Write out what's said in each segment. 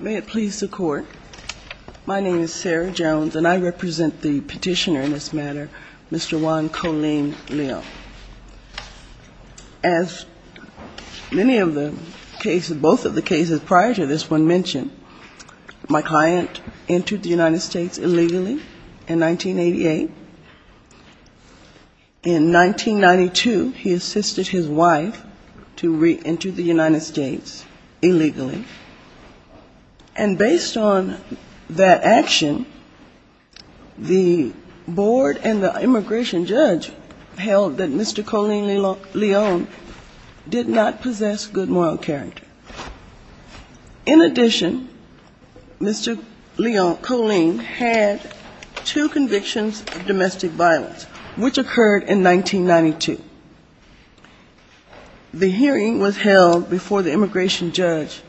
May it please the Court, my name is Sarah Jones and I represent the petitioner in this matter, Mr. Juan Coleen Leo. As many of the cases, both of the cases prior to this one mentioned, my client entered the United States illegally in 1988. In 1992, he assisted his wife to re-enter the United States illegally. And based on that action, the board and the immigration judge held that Mr. Coleen Leon did not possess good moral character. In addition, Mr. Coleen Leon had two convictions of domestic violence, which occurred in 1992. The hearing was held before the immigration judge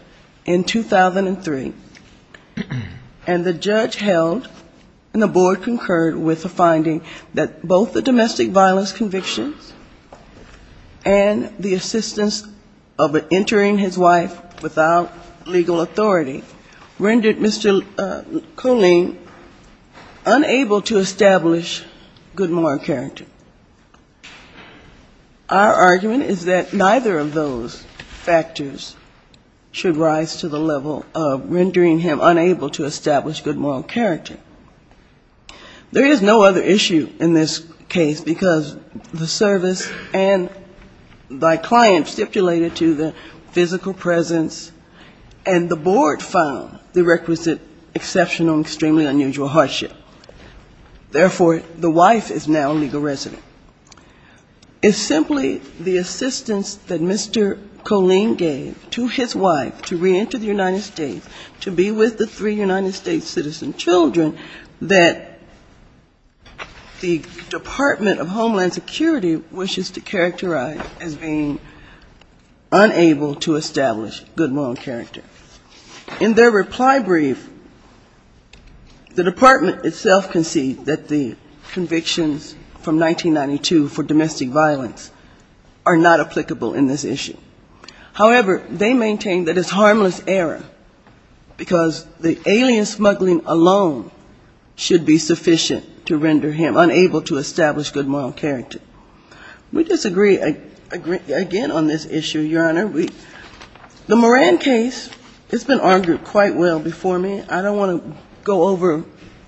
in 2003. And the judge held and the board concurred with the finding that both the domestic violence convictions and the assistance of entering his wife without legal authority rendered Mr. Coleen unable to establish good moral character. Our argument is that neither of those factors should rise to the level of rendering him unable to establish good moral character. There is no other issue in this case because the service and my client stipulated to the physical presence and the board found the requisite exceptional and extremely unusual hardship. Therefore, the wife is now a legal resident. It's simply the assistance that Mr. Coleen gave to his children that the Department of Homeland Security wishes to characterize as being unable to establish good moral character. In their reply brief, the department itself concedes that the convictions from 1992 for domestic violence are not applicable in this issue. However, they maintain that it's sufficient to render him unable to establish good moral character. We disagree again on this issue, Your Honor. The Moran case has been argued quite well before me. I don't want to go over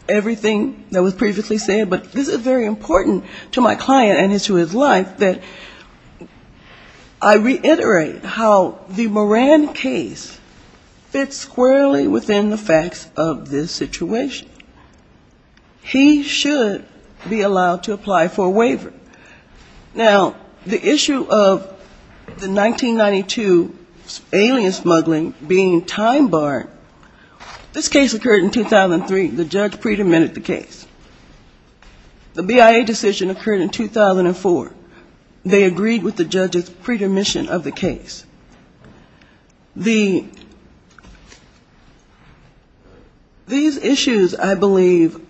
everything that was previously said, but this is very important to my client and to his life that I reiterate how the Moran case fits squarely within the facts of this situation. He should be allowed to apply for a waiver. Now, the issue of the 1992 alien smuggling being time-barred, this case occurred in 2003. The judge pre-dermitted the case. The BIA decision occurred in 2004. They agreed with the judge's pre-dermission of the case. These issues, I believe,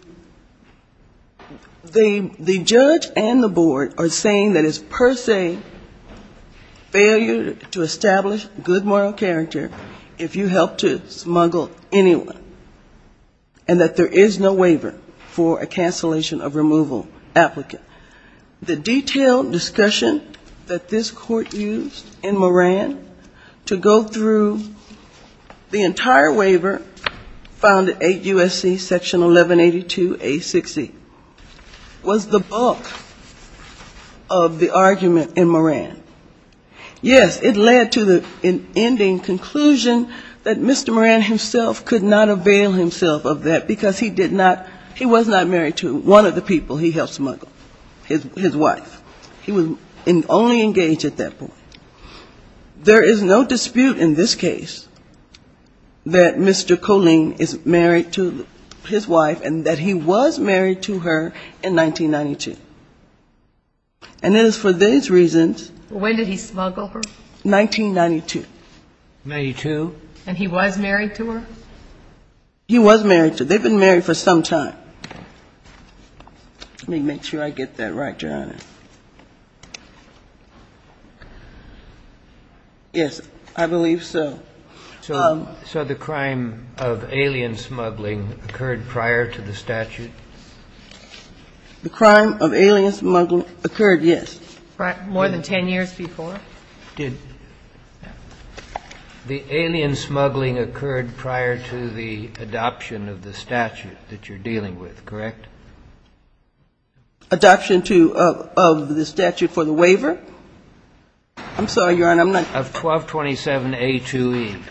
the judge and the board are saying that it's per se failure to establish good moral character if you help to smuggle anyone, and that there is no waiver for a cancellation of removal applicant. The detailed discussion that this court used in this case is not the case itself. It's the case of Mr. Moran to go through the entire waiver found at 8 U.S.C. section 1182A6E. It was the bulk of the argument in Moran. Yes, it led to the ending conclusion that Mr. Moran himself could not avail himself of that, because he did not he was not married to one of the people he helped smuggle, his wife. He was only engaged at that point. There is no dispute in this case that Mr. Colleen is married to his wife and that he was married to her in 1992. And it is for these reasons 1992. And he was married to her? He was married to her. They've been married for some time. Let me make sure I get that right, Your Honor. Yes, I believe so. So the crime of alien smuggling occurred prior to the statute? The crime of alien smuggling occurred, yes. More than 10 years before? It did. The alien smuggling occurred prior to the adoption of the statute that you're dealing with, correct? Adoption of the statute prior to the statute. And the statute was when? The statute for the waiver. I'm sorry, Your Honor, I'm not sure. Of 1227A2E.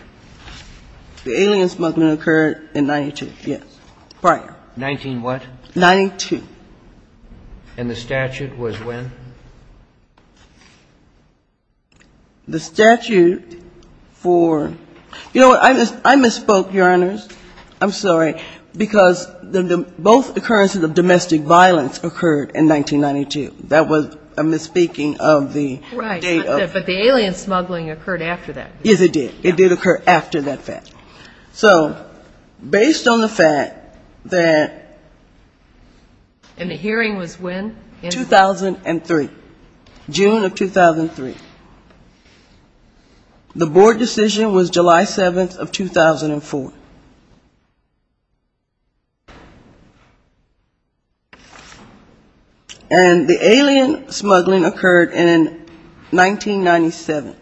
The alien smuggling occurred in 92, yes, prior. 19-what? 92. And the statute was when? The statute for you know what, I misspoke, Your Honor. I'm sorry. Because both occurrences of domestic violence occurred in 1992. That was a misspeaking of the date. Right. But the alien smuggling occurred after that. Yes, it did. It did occur after that fact. So based on the fact that And the hearing was when? 2003. June of 2003. The board decision was July 7th of 2004. The board decision was July 7th of 2004. The board decision was July 7th of And the alien smuggling occurred in 1997.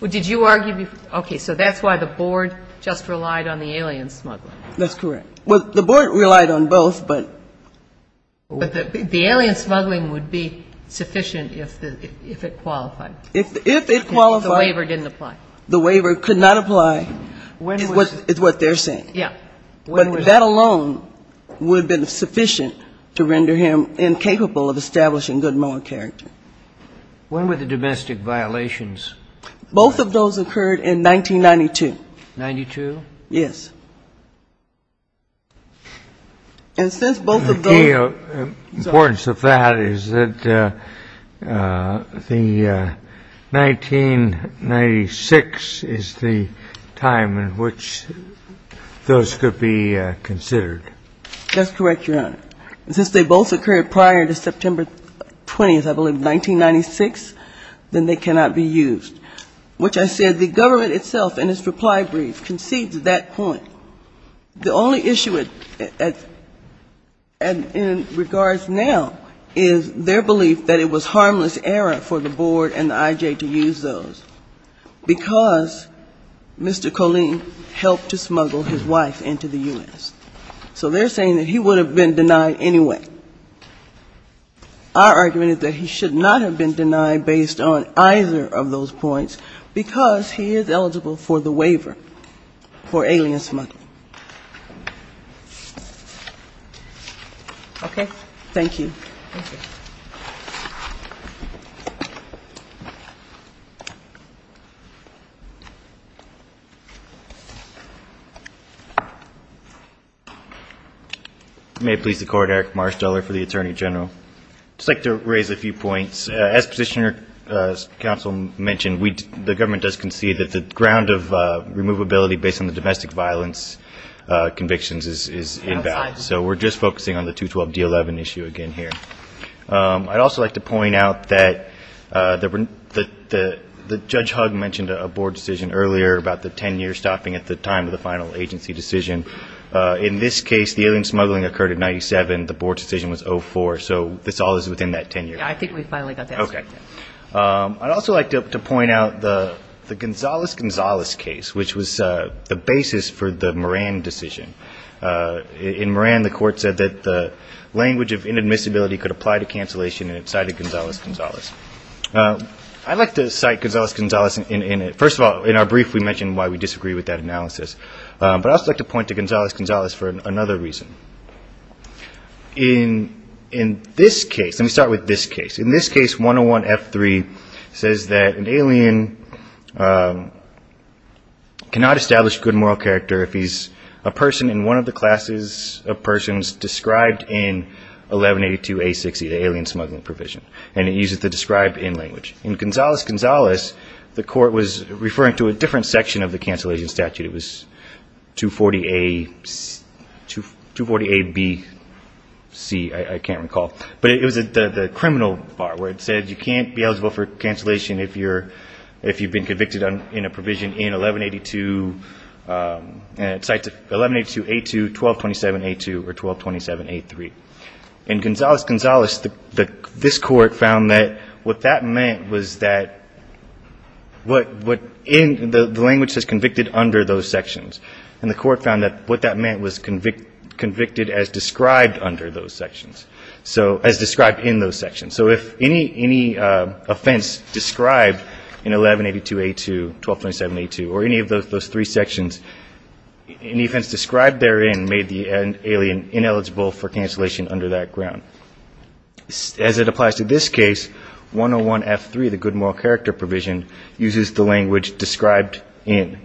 Well, did you argue before? Okay. So that's why the board just relied on the alien smuggling. That's correct. Well, the board relied on both, but But the alien smuggling would be sufficient if it qualified. If it qualified. If the waiver didn't apply. The waiver could not apply is what they're saying. Yeah. But that alone would have been sufficient. But the board decided it was sufficient to render him incapable of establishing good moral character. When were the domestic violations? Both of those occurred in 1992. 92? Yes. And since both of them- The importance of that is that the 1996 is the time in which those could be considered. That's correct, Your Honor. And since they both occurred prior to September 20th, I believe, 1996, then they cannot be used, which I said the government itself in its reply brief concedes that point. The only issue in regards now is their belief that it was harmless error for the board and the I.J. to use those because Mr. Colleen helped to smuggle his wife into the U.S. So they're saying that he would have been denied anyway. Our argument is that he should not have been denied based on either of those points because he is eligible for the waiver for alien smuggling. Okay. Thank you. Thank you. Thank you. May it please the Court, Eric Marsteller for the Attorney General. I'd just like to raise a few points. As Petitioner Counsel mentioned, the government does concede that the ground of removability based on the domestic violence convictions is invalid. So we're just focusing on the 212D11 issue again here. I'd also like to point out that Judge Hugg mentioned a board decision earlier about the 10-year stopping at the time of the final agency decision. In this case, the alien smuggling occurred in 97. The board decision was 04. So this all is within that 10-year period. Yeah, I think we finally got the answer. Okay. I'd also like to point out the Gonzales-Gonzales case, which was the basis for the Moran decision. In Moran, the Court said that the language of inadmissibility could apply to cancellation, and it cited Gonzales-Gonzales. I'd like to cite Gonzales-Gonzales. First of all, in our brief, we mentioned why we disagree with that analysis. But I'd also like to point to Gonzales-Gonzales for another reason. In this case, let me start with this case. In this case, 101F3 says that an alien cannot establish good moral character if he's a person in one of the classes of persons described in 1182A60, the alien smuggling provision, and it uses the described in language. In Gonzales-Gonzales, the Court was referring to a different section of the cancellation statute. It was 240A-B-C, I can't recall. But it was the criminal part where it said you can't be eligible for cancellation if you've been convicted in a provision in 1182A2, 1227A2, or 1227A3. In Gonzales-Gonzales, this Court found that what that meant was that the language says convicted under those sections, and the Court found that what that meant was convicted as described under those sections, as described in those sections. So if any offense described in 1182A2, 1227A2, or any of those three sections, any offense described therein made the alien ineligible for cancellation under that ground. As it applies to this case, 101F3, the good moral character provision, uses the language described in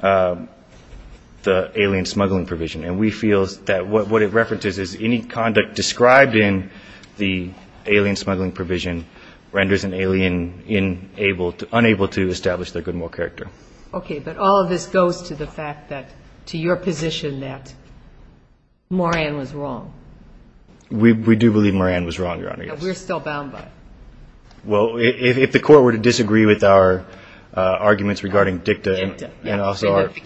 the alien smuggling provision. And we feel that what it references is any conduct described in the alien smuggling provision renders an alien unable to establish their good moral character. Okay, but all of this goes to the fact that, to your position, that Moran was wrong. We do believe Moran was wrong, Your Honor. And we're still bound by it. Well, if the Court were to disagree with our arguments regarding DICTA and also our... I'm not sure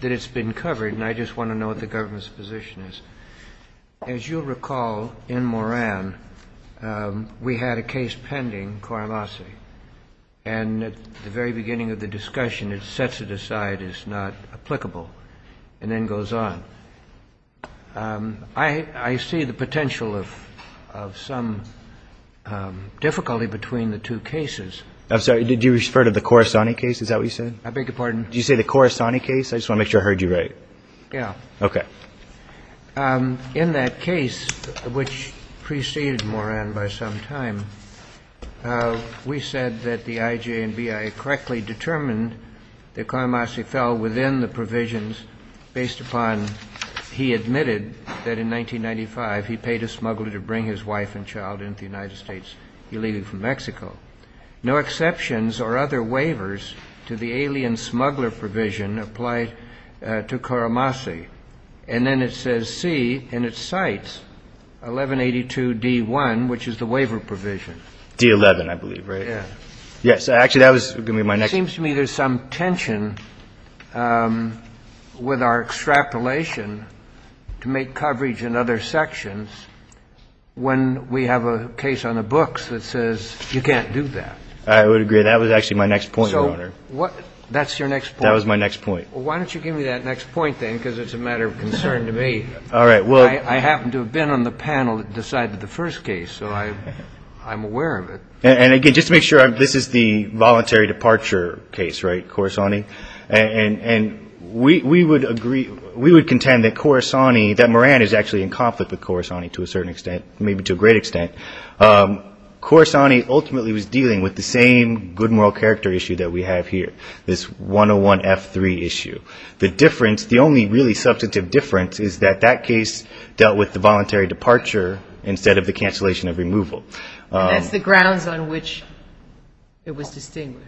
that it's been covered, and I just want to know what the government's position is. As you'll recall, in Moran, we had a case pending, Cuervasi. And at the very beginning of the discussion, it sets it aside as not applicable, and then goes on. In that case, which preceded Moran by some time, we said that the IJ and BIA correctly determined that Cuervasi fell within the provisions based upon he admitted that, in 1995, he paid a smuggler to break into his house, bring his wife and child into the United States, leaving from Mexico. No exceptions or other waivers to the alien smuggler provision apply to Cuervasi. And then it says, C, and it cites 1182 D-1, which is the waiver provision. D-11, I believe, right? Yes. Actually, that was going to be my next... ...when we have a case on the books that says you can't do that. I would agree. That was actually my next point, Your Honor. So that's your next point? That was my next point. Well, why don't you give me that next point then, because it's a matter of concern to me. All right. I happen to have been on the panel that decided the first case, so I'm aware of it. And, again, just to make sure, this is the voluntary departure case, right, Corisani? And we would contend that Moran is actually in conflict with Corisani to a certain extent, maybe to a great extent. Corisani ultimately was dealing with the same good moral character issue that we have here, this 101-F-3 issue. The difference, the only really substantive difference, is that that case dealt with the voluntary departure instead of the cancellation of removal. And that's the grounds on which it was distinguished.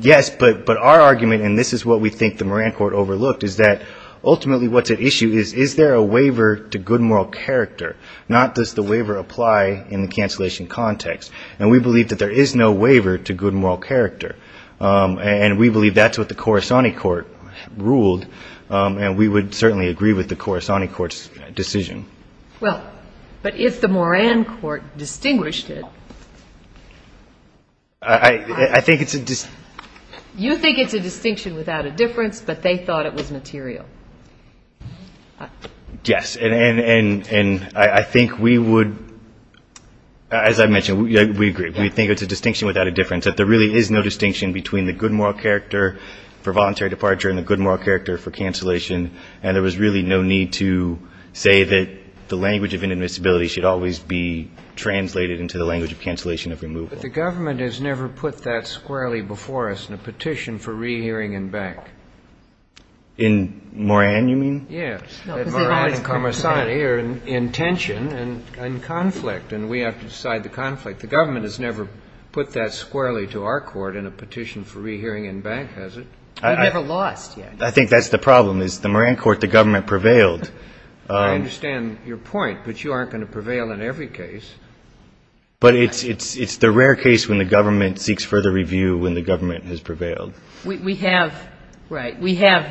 Yes, but our argument, and this is what we think the Moran court overlooked, is that ultimately what's at issue is, is there a waiver to good moral character, not does the waiver apply in the cancellation context. And we believe that there is no waiver to good moral character. And we believe that's what the Corisani court ruled, and we would certainly agree with the Corisani court's decision. Well, but if the Moran court distinguished it. I think it's a distinction. You think it's a distinction without a difference, but they thought it was material. Yes, and I think we would, as I mentioned, we agree. We think it's a distinction without a difference, that there really is no distinction between the good moral character for voluntary departure and the good moral character for cancellation, and there was really no need to say that the language of inadmissibility should always be translated into the language of cancellation of removal. But the government has never put that squarely before us in a petition for rehearing in bank. In Moran, you mean? Yes, Moran and Cormisani are in tension and conflict, and we have to decide the conflict. The government has never put that squarely to our court in a petition for rehearing in bank, has it? We've never lost yet. I think that's the problem, is the Moran court, the government prevailed. I understand your point, but you aren't going to prevail in every case. But it's the rare case when the government seeks further review when the government has prevailed. We have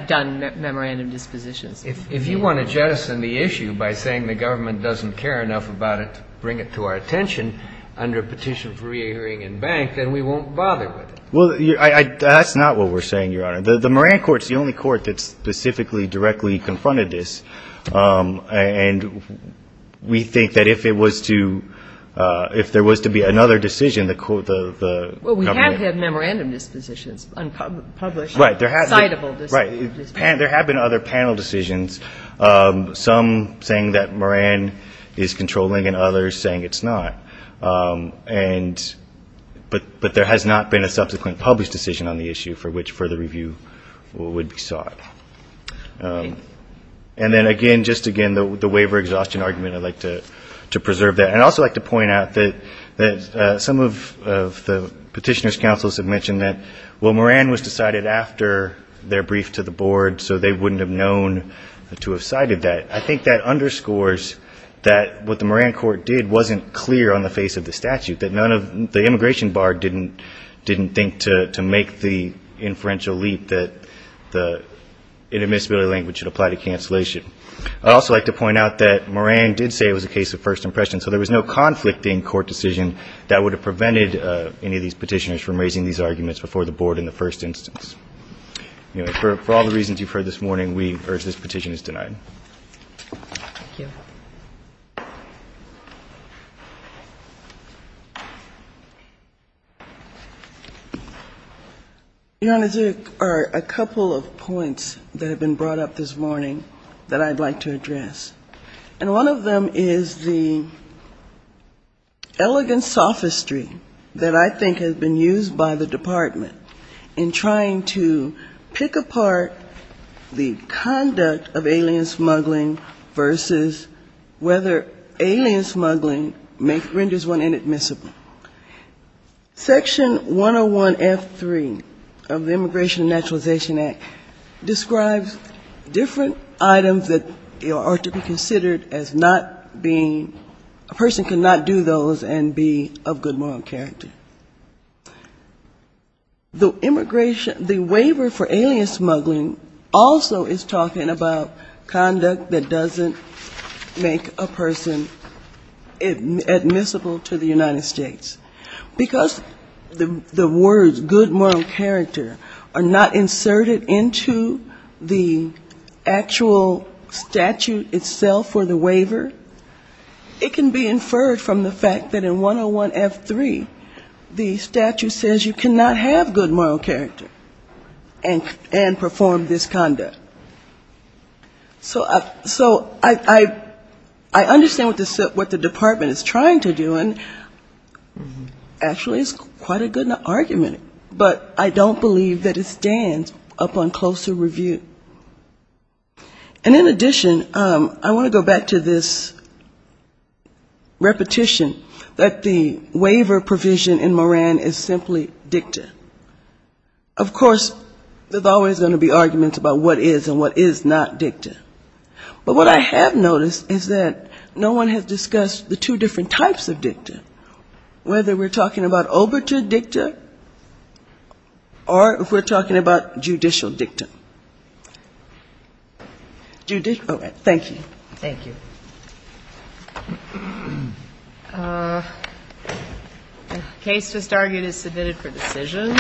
done memorandum dispositions. If you want to jettison the issue by saying the government doesn't care enough about it to bring it to our attention under a petition for rehearing in bank, then we won't bother with it. Well, that's not what we're saying, Your Honor. The Moran court is the only court that specifically directly confronted this, and we think that if it was to ‑‑ if there was to be another decision, the government ‑‑ Well, we have had memorandum dispositions unpublished. Right. Decidable dispositions. Right. There have been other panel decisions, some saying that Moran is controlling and others saying it's not. But there has not been a subsequent published decision on the issue for which further review would be sought. And then, again, just again, the waiver exhaustion argument, I'd like to preserve that. And I'd also like to point out that some of the petitioner's counsels have mentioned that, well, Moran was decided after their brief to the board, so they wouldn't have known to have cited that. I think that underscores that what the Moran court did wasn't clear on the face of the statute, that none of ‑‑ the immigration bar didn't think to make the inferential leap that the inadmissibility language should apply to cancellation. I'd also like to point out that Moran did say it was a case of first impression, so there was no conflict in court decision that would have prevented any of these petitioners from raising these arguments before the board in the first instance. Anyway, for all the reasons you've heard this morning, we urge this petition is denied. Thank you. Your Honor, there are a couple of points that have been brought up this morning that I'd like to address. And one of them is the elegant sophistry that I think has been used by the Department in trying to pick apart the conduct of alien smuggling versus whether alien smuggling renders one inadmissible. Section 101F3 of the Immigration and Naturalization Act describes different items that are to be considered as not being ‑‑ a person cannot do those and be of good moral character. The waiver for alien smuggling also is talking about conduct that doesn't make a person admissible to the United States. Because the words good moral character are not inserted into the actual statute itself for the waiver, it can be inferred from the fact that in 101F3 the statute says you cannot have good moral character and perform this conduct. So I understand what the Department is trying to do, and actually it's quite a good argument. But I don't believe that it stands upon closer review. And in addition, I want to go back to this repetition that the waiver provision in Moran is simply dicta. Of course, there's always going to be arguments about what is and what is not dicta. But what I have noticed is that no one has discussed the two different types of dicta, whether we're talking about overture dicta or if we're talking about judicial dicta. Judicial ‑‑ all right. Thank you. The case just argued is submitted for decision.